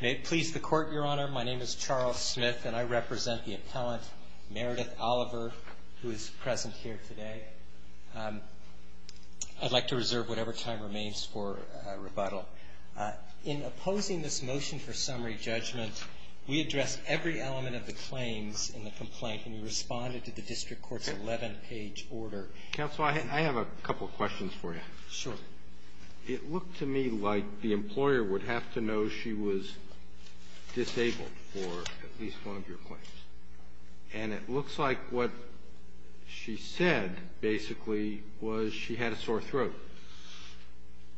May it please the Court, Your Honor, my name is Charles Smith and I represent the appellant, Meredith Oliver, who is present here today. I'd like to reserve whatever time remains for rebuttal. In opposing this motion for summary judgment, we addressed every element of the claims in the complaint and we responded to the District Court's 11-page order. Counsel, I have a couple questions for you. Sure. It looked to me like the employer would have to know she was disabled for at least one of your claims. And it looks like what she said, basically, was she had a sore throat.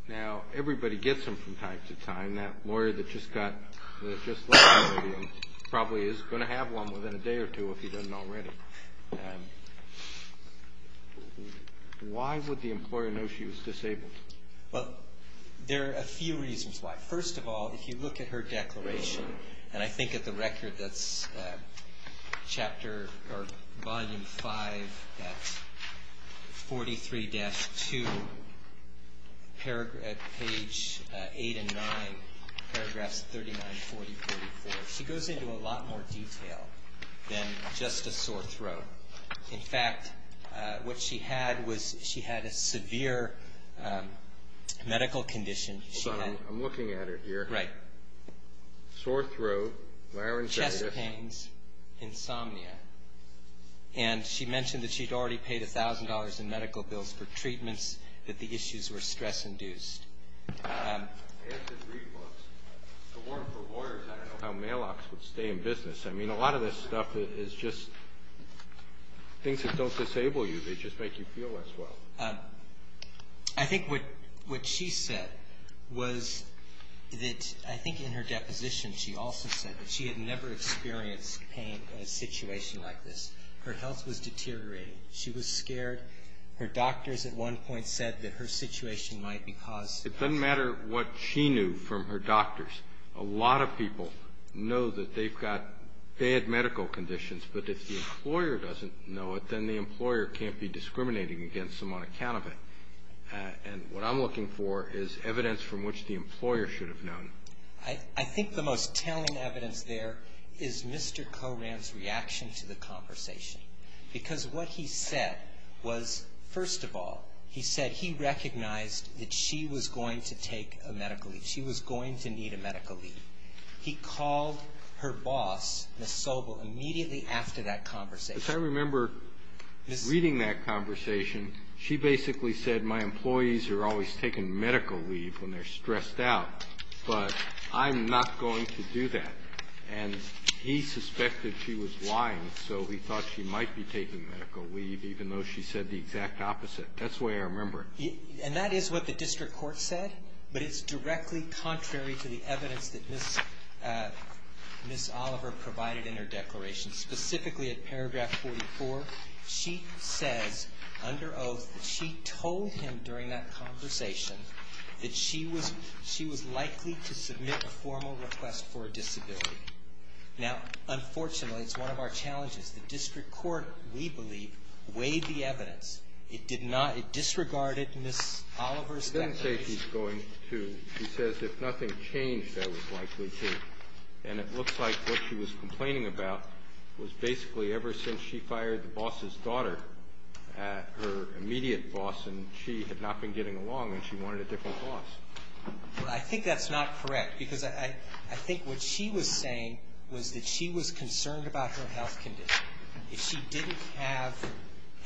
Now, everybody gets them from time to time. That lawyer that just left the podium probably is going to have one within a day or two if he doesn't already. Why would the employer know she was disabled? Well, there are a few reasons why. First of all, if you look at her declaration, and I think at the record that's Volume 5 at 43-2, page 8 and 9, paragraphs 39, 40, 44, she goes into a lot more detail than just a sore throat. In fact, what she had was she had a severe medical condition. Hold on. I'm looking at her here. Sore throat, laryngitis. Chest pains, insomnia. And she mentioned that she'd already paid $1,000 in medical bills for treatments, that the issues were stress-induced. I asked her to read books. The one for lawyers, I don't know how mail-offs would stay in business. I mean, a lot of this stuff is just things that don't disable you. They just make you feel less well. I think what she said was that I think in her deposition she also said that she had never experienced pain in a situation like this. Her health was deteriorating. She was scared. Her doctors at one point said that her situation might be caused. It doesn't matter what she knew from her doctors. A lot of people know that they've got bad medical conditions, but if the employer doesn't know it, then the employer can't be discriminating against them on account of it. And what I'm looking for is evidence from which the employer should have known. I think the most telling evidence there is Mr. Coram's reaction to the conversation because what he said was, first of all, he said he recognized that she was going to take a medical leave. She was going to need a medical leave. He called her boss, Ms. Sobel, immediately after that conversation. I remember reading that conversation. She basically said, my employees are always taking medical leave when they're stressed out, but I'm not going to do that. And he suspected she was lying, so he thought she might be taking medical leave, even though she said the exact opposite. That's the way I remember it. And that is what the district court said, but it's directly contrary to the evidence that Ms. Oliver provided in her declaration. Specifically at paragraph 44, she says under oath that she told him during that conversation that she was likely to submit a formal request for a disability. Now, unfortunately, it's one of our challenges. The district court, we believe, weighed the evidence. It disregarded Ms. Oliver's declaration. It doesn't say she's going to. She says if nothing changed, that was likely to. And it looks like what she was complaining about was basically ever since she fired the boss's daughter, her immediate boss, and she had not been getting along, and she wanted a different boss. Well, I think that's not correct, because I think what she was saying was that she was concerned about her health condition. If she didn't have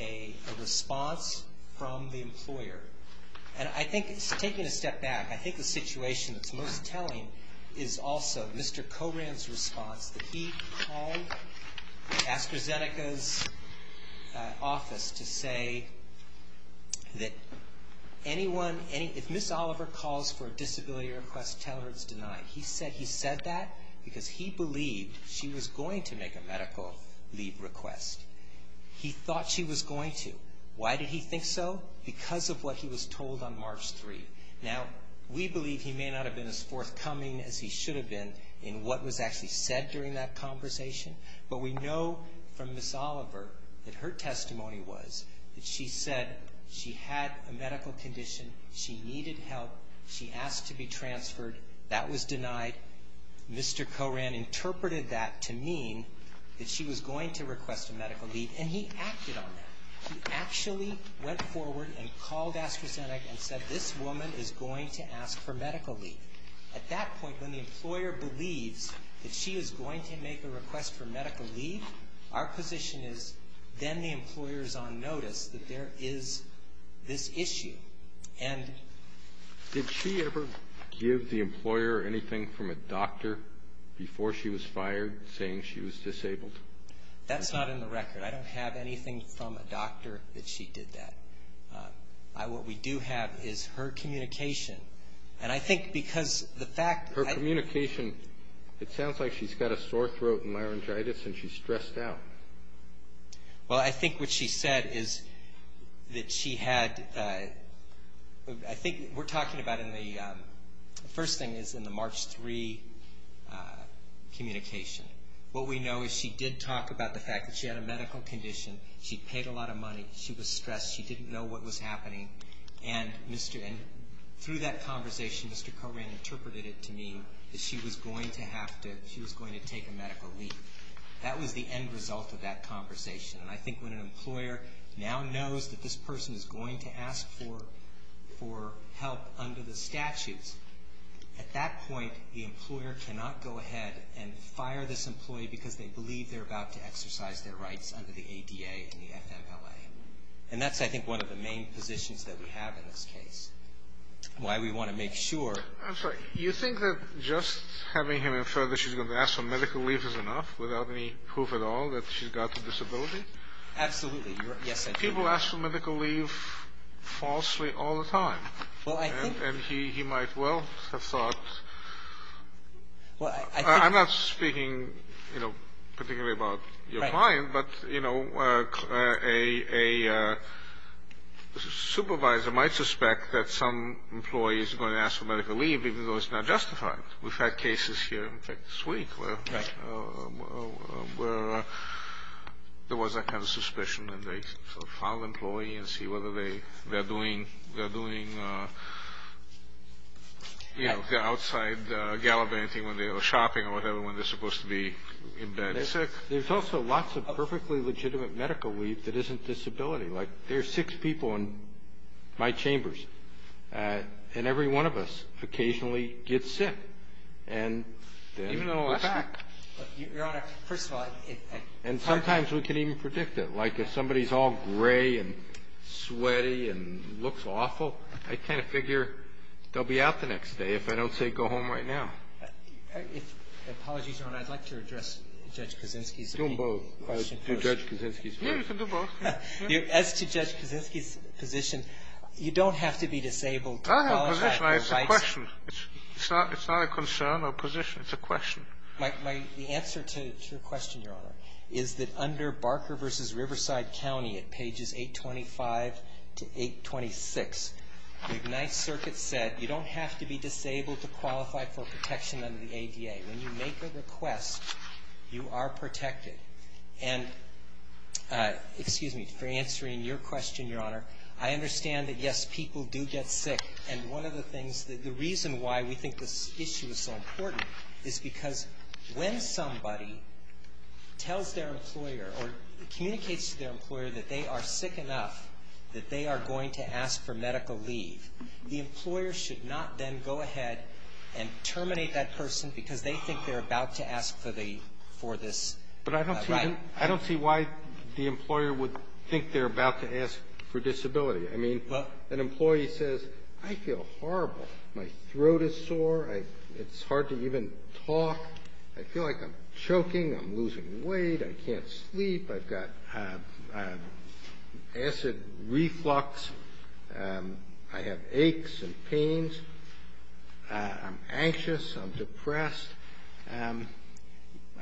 a response from the employer, and I think taking a step back, I think the situation that's most telling is also Mr. Coran's response, that he called AstraZeneca's office to say that if Ms. Oliver calls for a disability request, tell her it's denied. He said that because he believed she was going to make a medical leave request. He thought she was going to. Why did he think so? Because of what he was told on March 3. Now, we believe he may not have been as forthcoming as he should have been in what was actually said during that conversation, but we know from Ms. Oliver that her testimony was that she said she had a medical condition. She needed help. She asked to be transferred. That was denied. Mr. Coran interpreted that to mean that she was going to request a medical leave, and he acted on that. He actually went forward and called AstraZeneca and said this woman is going to ask for medical leave. At that point, when the employer believes that she is going to make a request for medical leave, our position is then the employer is on notice that there is this issue. And did she ever give the employer anything from a doctor before she was fired saying she was disabled? That's not in the record. I don't have anything from a doctor that she did that. What we do have is her communication. And I think because the fact that I ---- Her communication, it sounds like she's got a sore throat and laryngitis and she's stressed out. Well, I think what she said is that she had ---- I think we're talking about in the ---- the first thing is in the March 3 communication. What we know is she did talk about the fact that she had a medical condition. She paid a lot of money. She was stressed. She didn't know what was happening. And through that conversation, Mr. Coran interpreted it to mean that she was going to have to ---- she was going to take a medical leave. That was the end result of that conversation. And I think when an employer now knows that this person is going to ask for help under the statutes, at that point the employer cannot go ahead and fire this employee because they believe they're about to exercise their rights under the ADA and the FMLA. And that's, I think, one of the main positions that we have in this case. Why we want to make sure ---- I'm sorry. You think that just having him infer that she's going to ask for medical leave is enough without any proof at all that she's got a disability? Absolutely. Yes, I do. People ask for medical leave falsely all the time. Well, I think ---- And he might well have thought ---- Well, I think ---- I'm not speaking, you know, particularly about your client. But, you know, a supervisor might suspect that some employee is going to ask for medical leave even though it's not justified. We've had cases here this week where there was that kind of suspicion and they sort of found an employee and see whether they're doing, you know, they're outside gallivanting or shopping or whatever when they're supposed to be in bed sick. There's also lots of perfectly legitimate medical leave that isn't disability. Like there are six people in my chambers, and every one of us occasionally gets sick. And then ---- Even though we're back. Your Honor, first of all ---- And sometimes we can even predict it. Like if somebody's all gray and sweaty and looks awful, I kind of figure they'll be out the next day if I don't say go home right now. If ---- Apologies, Your Honor. I'd like to address Judge Kaczynski's ---- Do them both. Do Judge Kaczynski's first. Yeah, you can do both. As to Judge Kaczynski's position, you don't have to be disabled ---- I don't have a position. It's a question. It's not a concern or position. It's a question. The answer to your question, Your Honor, is that under Barker v. Riverside County at pages 825 to 826, the Ignite Circuit said you don't have to be disabled to qualify for protection under the ADA. When you make a request, you are protected. And, excuse me, for answering your question, Your Honor, I understand that, yes, people do get sick. And one of the things that the reason why we think this issue is so important is because when somebody tells their employer or communicates to their employer that they are sick enough that they are going to ask for medical leave, the employer should not then go ahead and terminate that person because they think they're about to ask for the ---- for this right. But I don't see why the employer would think they're about to ask for disability. I mean, an employee says, I feel horrible. My throat is sore. It's hard to even talk. I feel like I'm choking. I'm losing weight. I can't sleep. I've got acid reflux. I have aches and pains. I'm anxious. I'm depressed. I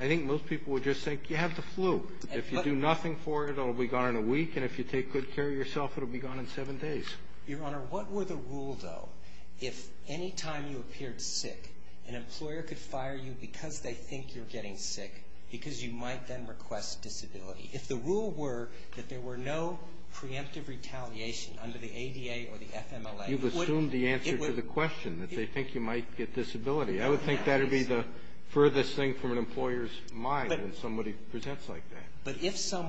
think most people would just think you have the flu. If you do nothing for it, it will be gone in a week. And if you take good care of yourself, it will be gone in seven days. Your Honor, what were the rule, though, if any time you appeared sick, an employer could fire you because they think you're getting sick, because you might then request disability? If the rule were that there were no preemptive retaliation under the ADA or the FMLA ---- You've assumed the answer to the question, that they think you might get disability. I would think that would be the furthest thing from an employer's mind if somebody presents like that. But if the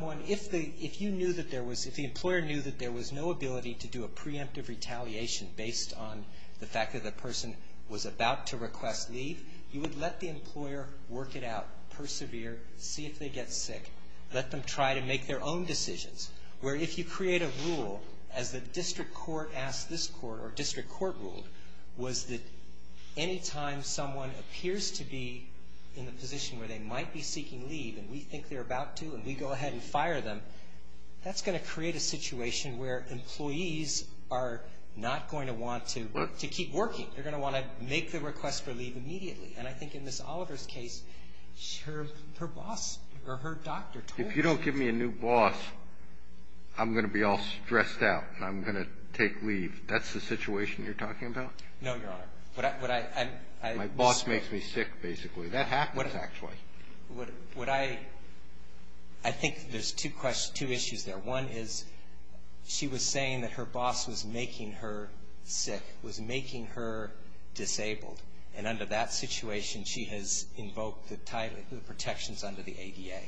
employer knew that there was no ability to do a preemptive retaliation based on the fact that the person was about to request leave, you would let the employer work it out, persevere, see if they get sick, let them try to make their own decisions. Where if you create a rule, as the district court asked this court or district court ruled, was that any time someone appears to be in the position where they might be seeking leave and we think they're about to and we go ahead and fire them, that's going to create a situation where employees are not going to want to keep working. They're going to want to make the request for leave immediately. And I think in Ms. Oliver's case, her boss or her doctor told her. If you don't give me a new boss, I'm going to be all stressed out and I'm going to take leave. That's the situation you're talking about? No, Your Honor. My boss makes me sick, basically. That happens, actually. What I think there's two issues there. One is she was saying that her boss was making her sick, was making her disabled, and under that situation she has invoked the protections under the ADA.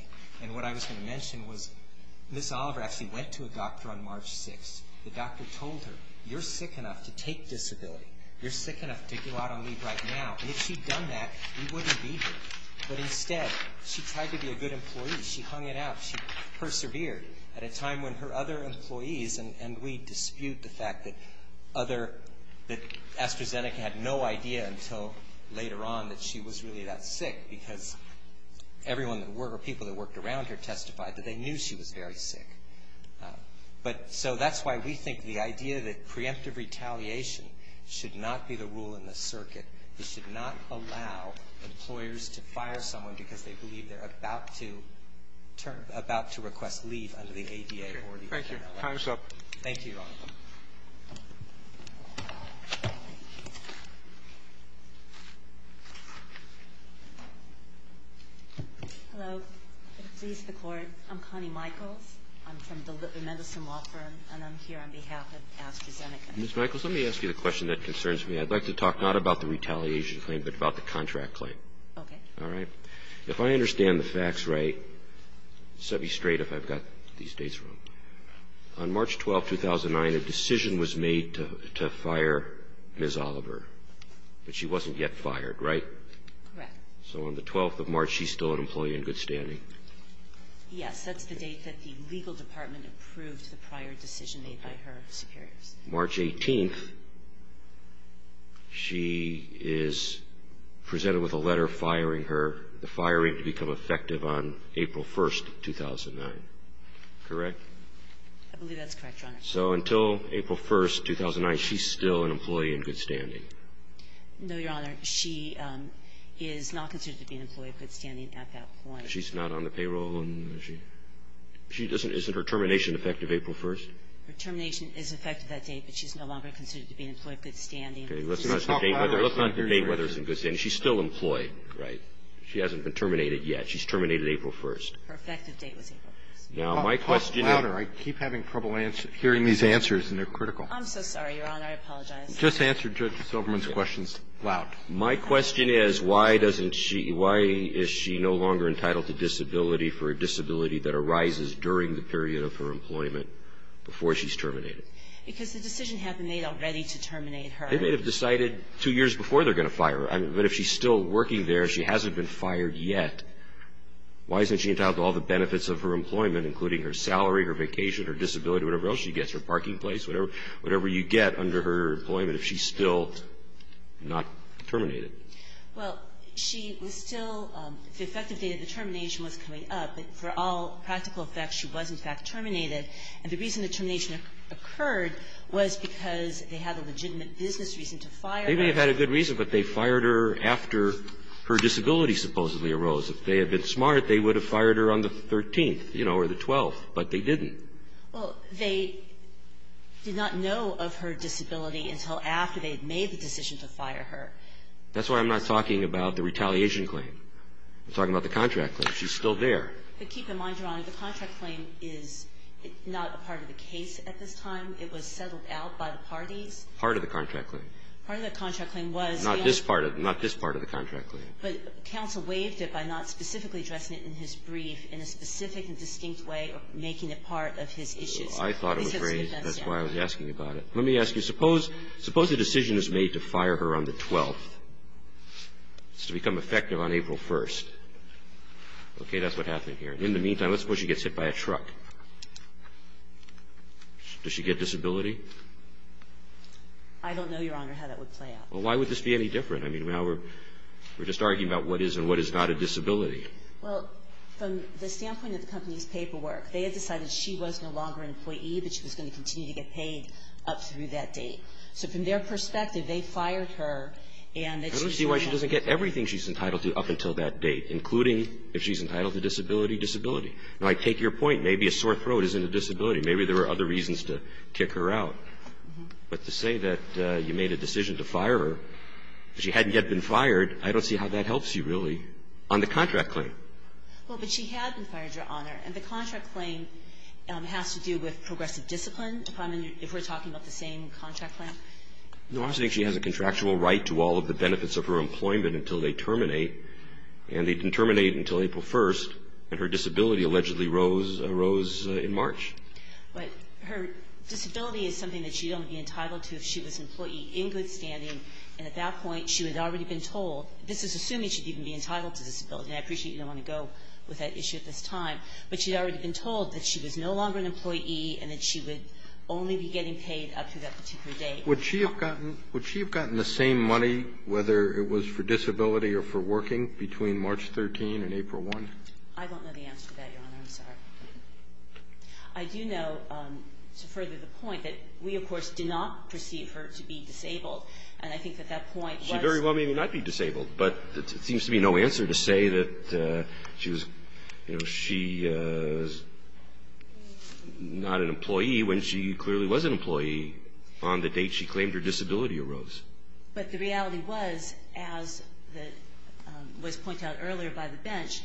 And what I was going to mention was Ms. Oliver actually went to a doctor on March 6th. The doctor told her, you're sick enough to take disability. You're sick enough to go out and leave right now. And if she'd done that, we wouldn't be here. But instead, she tried to be a good employee. She hung it out. She persevered at a time when her other employees, and we dispute the fact that AstraZeneca had no idea until later on that she was really that sick because people that worked around her testified that they knew she was very sick. So that's why we think the idea that preemptive retaliation should not be the rule in the circuit. This should not allow employers to fire someone because they believe they're about to turn about to request leave under the ADA. Thank you. Time's up. Thank you, Your Honor. Hello. Please, the Court. I'm Connie Michaels. I'm from the Mendelson Law Firm, and I'm here on behalf of AstraZeneca. Ms. Michaels, let me ask you the question that concerns me. I'd like to talk not about the retaliation claim but about the contract claim. Okay. All right? If I understand the facts right, set me straight if I've got these dates wrong. On March 12, 2009, a decision was made to fire Ms. Oliver, but she wasn't yet fired, right? Correct. So on the 12th of March, she's still an employee in good standing? Yes. That's the date that the legal department approved the prior decision made by her superiors. March 18, she is presented with a letter firing her, the firing to become effective on April 1, 2009. Correct? I believe that's correct, Your Honor. So until April 1, 2009, she's still an employee in good standing? No, Your Honor. She is not considered to be an employee in good standing at that point. She's not on the payroll? Isn't her termination effective April 1? Her termination is effective that date, but she's no longer considered to be an employee in good standing. Okay. Let's not debate whether it's in good standing. She's still employed, right? She hasn't been terminated yet. She's terminated April 1. Her effective date was April 1. Now, my question is – Talk louder. I keep having trouble hearing these answers, and they're critical. I'm so sorry, Your Honor. I apologize. Just answer Judge Silverman's questions loud. My question is, why doesn't she – why is she no longer entitled to disability for a disability that arises during the period of her employment before she's terminated? Because the decision had been made already to terminate her. They may have decided two years before they're going to fire her. But if she's still working there, she hasn't been fired yet, why isn't she entitled to all the benefits of her employment, including her salary, her vacation, her disability, whatever else she gets, her parking place, whatever you get under her employment if she's still not terminated? Well, she was still – the effective date of the termination was coming up, but for all practical effects, she was, in fact, terminated. And the reason the termination occurred was because they had a legitimate business reason to fire her. They may have had a good reason, but they fired her after her disability supposedly arose. If they had been smart, they would have fired her on the 13th, you know, or the 12th, but they didn't. Well, they did not know of her disability until after they had made the decision to fire her. That's why I'm not talking about the retaliation claim. I'm talking about the contract claim. She's still there. But keep in mind, Your Honor, the contract claim is not a part of the case at this time. It was settled out by the parties. Part of the contract claim. Part of the contract claim was the – Not this part of – not this part of the contract claim. But counsel waived it by not specifically addressing it in his brief in a specific and distinct way of making it part of his issues. I thought it was raised. That's why I was asking about it. Let me ask you, suppose the decision is made to fire her on the 12th. It's to become effective on April 1st. Okay, that's what happened here. In the meantime, let's suppose she gets hit by a truck. Does she get disability? I don't know, Your Honor, how that would play out. Well, why would this be any different? I mean, now we're just arguing about what is and what is not a disability. Well, from the standpoint of the company's paperwork, they had decided she was no longer an employee, but she was going to continue to get paid up through that date. So from their perspective, they fired her and that she's no longer – I don't see why she doesn't get everything she's entitled to up until that date, including if she's entitled to disability, disability. Now, I take your point. Maybe a sore throat isn't a disability. Maybe there are other reasons to kick her out. But to say that you made a decision to fire her, she hadn't yet been fired, I don't see how that helps you really on the contract claim. Well, but she had been fired, Your Honor. And the contract claim has to do with progressive discipline, if we're talking about the same contract claim. No, I'm saying she has a contractual right to all of the benefits of her employment until they terminate, and they didn't terminate until April 1st, and her disability allegedly arose in March. But her disability is something that she don't be entitled to if she was an employee in good standing, and at that point she had already been told – this is assuming she'd even be entitled to disability, and I appreciate you don't want to go with that issue at this time. But she'd already been told that she was no longer an employee and that she would only be getting paid up to that particular date. Would she have gotten the same money, whether it was for disability or for working, between March 13th and April 1st? I don't know the answer to that, Your Honor. I'm sorry. I do know, to further the point, that we, of course, did not perceive her to be disabled. And I think that that point was – She very well may not be disabled. But it seems to me no answer to say that she was – you know, she was not an employee when she clearly was an employee on the date she claimed her disability arose. But the reality was, as was pointed out earlier by the bench,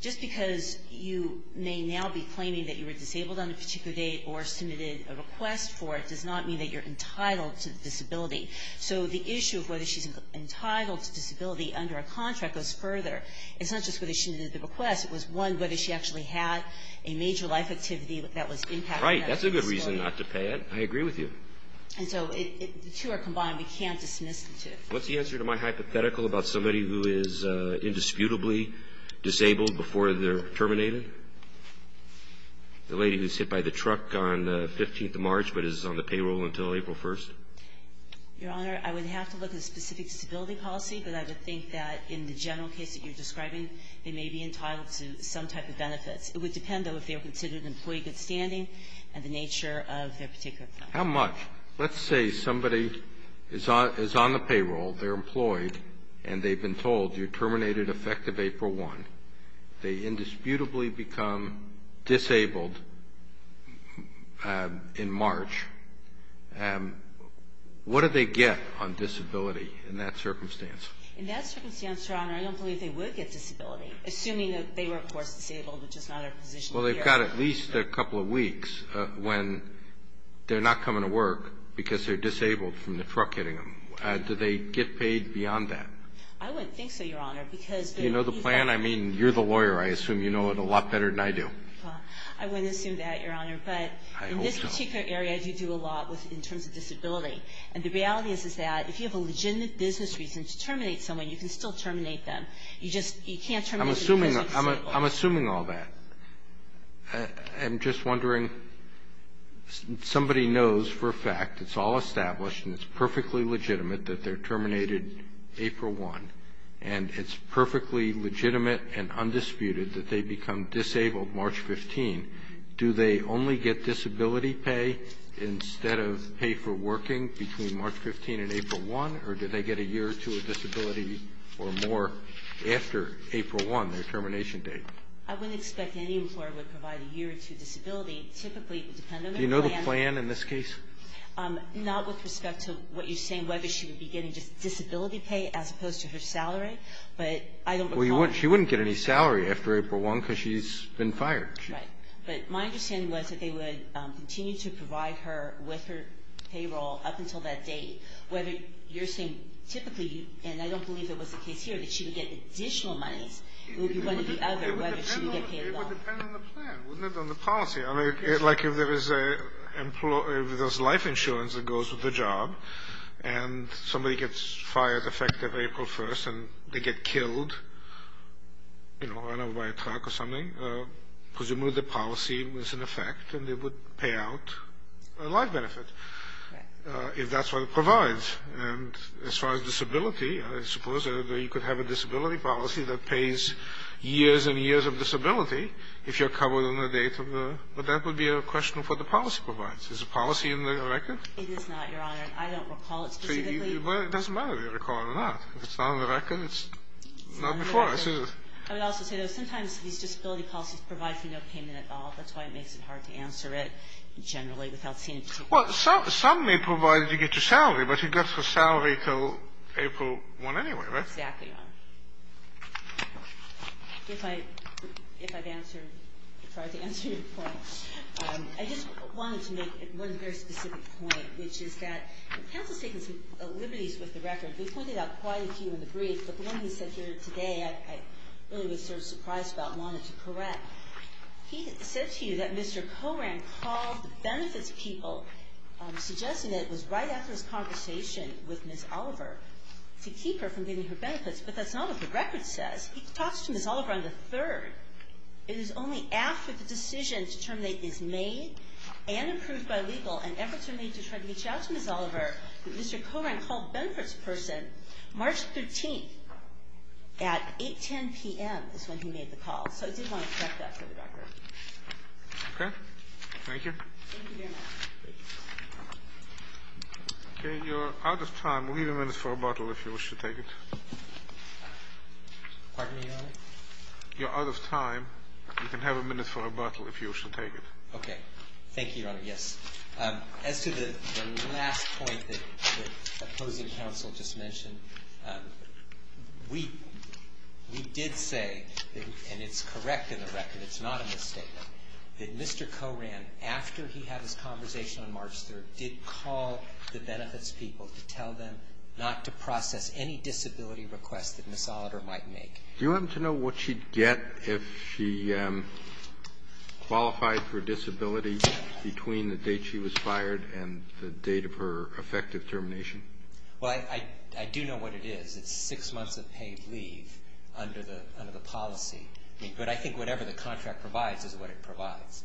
just because you may now be claiming that you were disabled on a particular date or submitted a request for it does not mean that you're entitled to disability. So the issue of whether she's entitled to disability under a contract goes further. It's not just whether she submitted the request. It was, one, whether she actually had a major life activity that was impacting that disability. Right. That's a good reason not to pay it. I agree with you. And so the two are combined. We can't dismiss the two. What's the answer to my hypothetical about somebody who is indisputably disabled before they're terminated? The lady who was hit by the truck on the 15th of March but is on the payroll until April 1st? Your Honor, I would have to look at the specific disability policy. But I would think that in the general case that you're describing, they may be entitled to some type of benefits. It would depend, though, if they were considered employee good standing and the nature of their particular claim. How much? Let's say somebody is on the payroll, they're employed, and they've been told you're terminated effective April 1. They indisputably become disabled in March. What do they get on disability in that circumstance? In that circumstance, Your Honor, I don't believe they would get disability, assuming that they were, of course, disabled, which is not our position here. Well, they've got at least a couple of weeks when they're not coming to work because they're disabled from the truck hitting them. Do they get paid beyond that? I wouldn't think so, Your Honor. You know the plan? I mean, you're the lawyer. I assume you know it a lot better than I do. Well, I wouldn't assume that, Your Honor. But in this particular area, you do a lot in terms of disability. And the reality is that if you have a legitimate business reason to terminate someone, you can still terminate them. You just can't terminate them because they're disabled. I'm assuming all that. I'm just wondering, somebody knows for a fact, it's all established and it's perfectly legitimate that they're terminated April 1, and it's perfectly legitimate and undisputed that they become disabled March 15. Do they only get disability pay instead of pay for working between March 15 and April 1? Or do they get a year or two of disability or more after April 1, their termination date? I wouldn't expect any employer would provide a year or two disability. Typically, it would depend on their plan. Do you know the plan in this case? Not with respect to what you're saying, whether she would be getting just disability pay as opposed to her salary. But I don't recall that. Well, she wouldn't get any salary after April 1 because she's been fired. Right. But my understanding was that they would continue to provide her with her payroll up until that date, whether you're saying typically, and I don't believe that was the case here, that she would get additional monies. It would be one or the other whether she would get paid at all. It would depend on the plan, wouldn't it, on the policy? I mean, like if there's life insurance that goes with the job and somebody gets fired effective April 1 and they get killed, you know, run over by a truck or something, presumably the policy was in effect and they would pay out a life benefit if that's what it provides. And as far as disability, I suppose you could have a disability policy that pays years and years of disability if you're covered on the date of the, but that would be a question for the policy providers. Is the policy in the record? It is not, Your Honor. I don't recall it specifically. Well, it doesn't matter if you recall it or not. If it's not on the record, it's not before us, is it? I would also say, though, sometimes these disability policies provide for no payment at all. That's why it makes it hard to answer it generally without seeing it. Well, some may provide that you get your salary, but you'd get the salary until April 1 anyway, right? Exactly, Your Honor. If I've answered, tried to answer your point, I just wanted to make one very specific point, which is that counsel's taken some liberties with the record. We've pointed out quite a few in the brief, but the one he said here today, I really was sort of surprised about and wanted to correct. He said to you that Mr. Coran called the benefits people, suggesting that it was right after his conversation with Ms. Oliver to keep her from getting her benefits, but that's not what the record says. He talks to Ms. Oliver on the 3rd. It is only after the decision to terminate is made and approved by legal and efforts are made to try to reach out to Ms. Oliver that Mr. Coran called benefits person March 13th at 8, 10 p.m. is when he made the call. So I did want to correct that for the record. Okay. Thank you. Thank you, Your Honor. Please. Okay. You're out of time. We'll give you a minute for a bottle if you wish to take it. Pardon me, Your Honor? You're out of time. You can have a minute for a bottle if you wish to take it. Okay. Thank you, Your Honor. Yes. As to the last point that opposing counsel just mentioned, we did say, and it's correct in the record, it's not a misstatement, that Mr. Coran, after he had his conversation on March 3rd, did call the benefits people to tell them not to process any disability request that Ms. Oliver might make. Do you happen to know what she'd get if she qualified for disability between the date she was fired and the date of her effective termination? Well, I do know what it is. It's six months of paid leave under the policy. But I think whatever the contract provides is what it provides.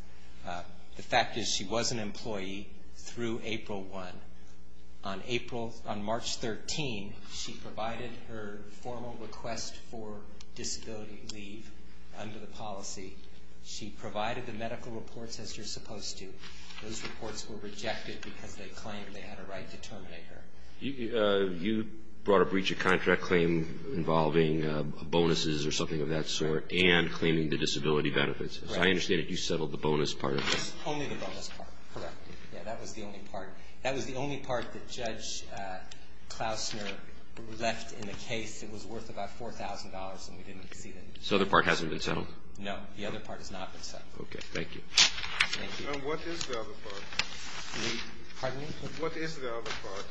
The fact is she was an employee through April 1. On March 13, she provided her formal request for disability leave under the policy. She provided the medical reports as you're supposed to. Those reports were rejected because they claimed they had a right to terminate her. You brought a breach of contract claim involving bonuses or something of that sort and claiming the disability benefits. Right. I understand that you settled the bonus part of it. Only the bonus part. Correct. Yeah, that was the only part. That was the only part that Judge Klausner left in the case. It was worth about $4,000, and we didn't exceed it. This other part hasn't been settled? No. The other part has not been settled. Okay. Thank you. And what is the other part? Pardon me? What is the other part?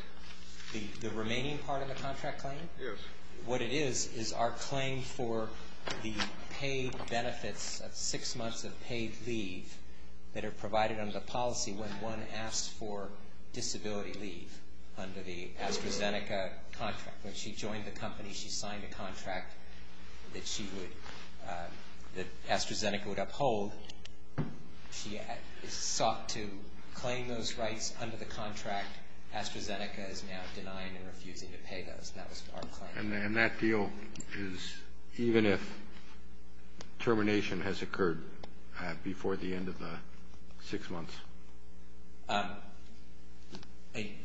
The remaining part of the contract claim? Yes. What it is is our claim for the paid benefits of six months of paid leave that are provided under the policy when one asks for disability leave under the AstraZeneca contract. When she joined the company, she signed a contract that AstraZeneca would uphold. She sought to claim those rights under the contract. AstraZeneca is now denying and refusing to pay those. That was our claim. And that deal is even if termination has occurred before the end of the six months?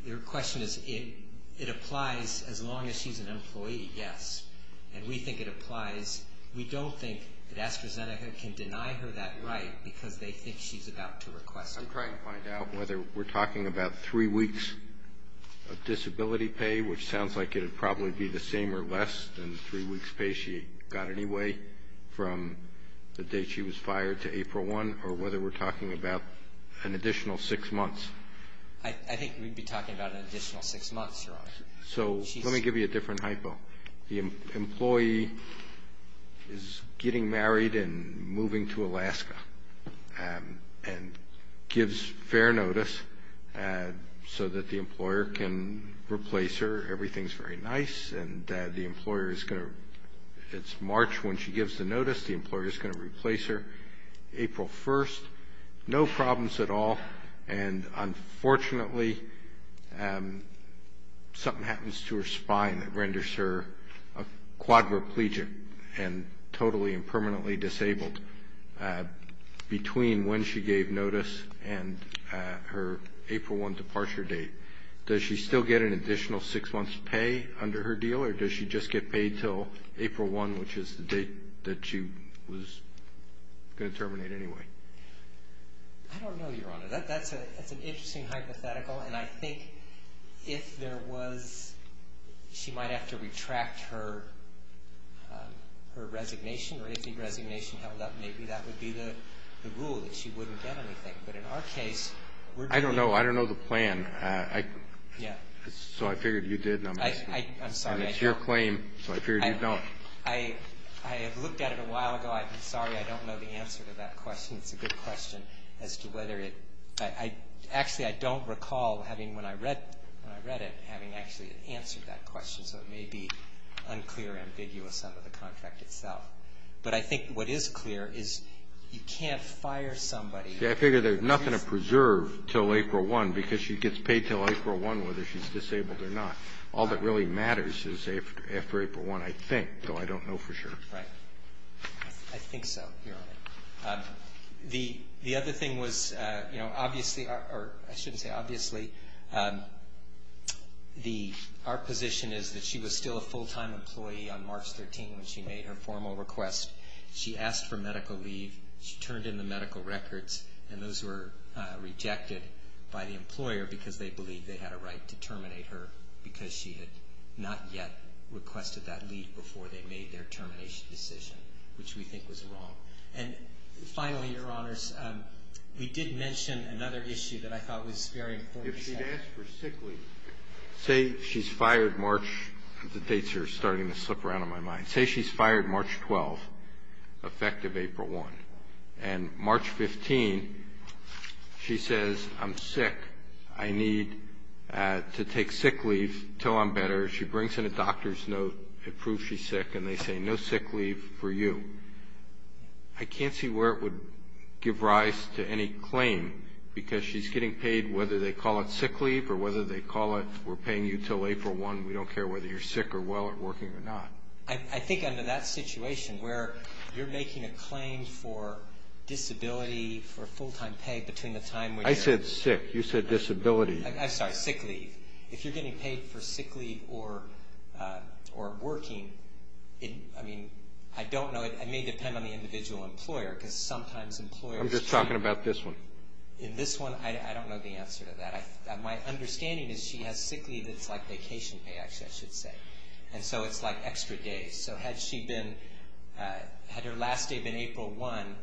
Your question is it applies as long as she's an employee? Yes. And we think it applies. We don't think that AstraZeneca can deny her that right because they think she's about to request it. I'm trying to find out whether we're talking about three weeks of disability pay, which sounds like it would probably be the same or less than the three weeks' pay she got anyway from the date she was fired to April 1, or whether we're talking about an additional six months. I think we'd be talking about an additional six months, Your Honor. So let me give you a different hypo. The employee is getting married and moving to Alaska and gives fair notice so that the employer can replace her. Everything's very nice. And the employer is going to ‑‑ it's March when she gives the notice. The employer is going to replace her April 1. No problems at all. And, unfortunately, something happens to her spine that renders her a quadriplegic and totally and permanently disabled between when she gave notice and her April 1 departure date. Does she still get an additional six months' pay under her deal, or does she just get paid until April 1, which is the date that she was going to terminate anyway? I don't know, Your Honor. That's an interesting hypothetical, and I think if there was ‑‑ she might have to retract her resignation, or if the resignation held up, maybe that would be the rule, that she wouldn't get anything. But in our case, we're doing ‑‑ I don't know. I don't know the plan. Yeah. So I figured you did, and I'm asking. I'm sorry. And it's your claim, so I figured you don't. I have looked at it a while ago. I'm sorry I don't know the answer to that question. It's a good question as to whether it ‑‑ actually, I don't recall having, when I read it, having actually answered that question, so it may be unclear, ambiguous under the contract itself. But I think what is clear is you can't fire somebody. See, I figure there's nothing to preserve until April 1, because she gets paid until April 1 whether she's disabled or not. All that really matters is after April 1, I think, though I don't know for sure. Right. I think so, Your Honor. The other thing was, you know, obviously, or I shouldn't say obviously, our position is that she was still a full‑time employee on March 13 when she made her formal request. She asked for medical leave. She turned in the medical records, and those were rejected by the employer because they believed they had a right to terminate her because she had not yet requested that leave before they made their termination decision, which we think was wrong. And finally, Your Honors, we did mention another issue that I thought was very important. If she'd asked for sick leave, say she's fired March ‑‑ the dates are starting to slip around in my mind. Say she's fired March 12, effective April 1, and March 15, she says, I'm sick. I need to take sick leave until I'm better. She brings in a doctor's note that proves she's sick, and they say no sick leave for you. I can't see where it would give rise to any claim because she's getting paid, whether they call it sick leave or whether they call it we're paying you until April 1, we don't care whether you're sick or well or working or not. I think under that situation where you're making a claim for disability, for full‑time pay between the time when you're ‑‑ I said sick. You said disability. I'm sorry, sick leave. If you're getting paid for sick leave or working, I mean, I don't know. It may depend on the individual employer because sometimes employers ‑‑ I'm just talking about this one. In this one, I don't know the answer to that. My understanding is she has sick leave that's like vacation pay, actually, I should say. And so it's like extra days. So had she been ‑‑ had her last day been April 1,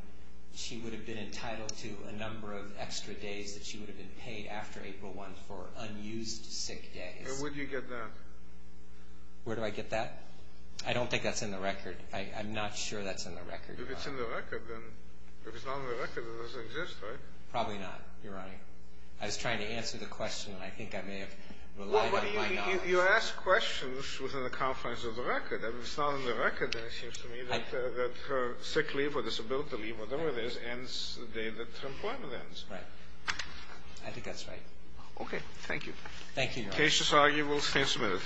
she would have been entitled to a number of extra days that she would have been paid after April 1 for unused sick days. Where do you get that? Where do I get that? I don't think that's in the record. I'm not sure that's in the record. If it's in the record, then if it's not in the record, it doesn't exist, right? Probably not, Your Honor. I was trying to answer the question, and I think I may have relied on my knowledge. You ask questions within the confines of the record. If it's not in the record, then it seems to me that her sick leave or disability leave, whatever it is, ends the day that her employment ends. Right. I think that's right. Okay. Thank you. Thank you, Your Honor. Cases argued will stand submitted.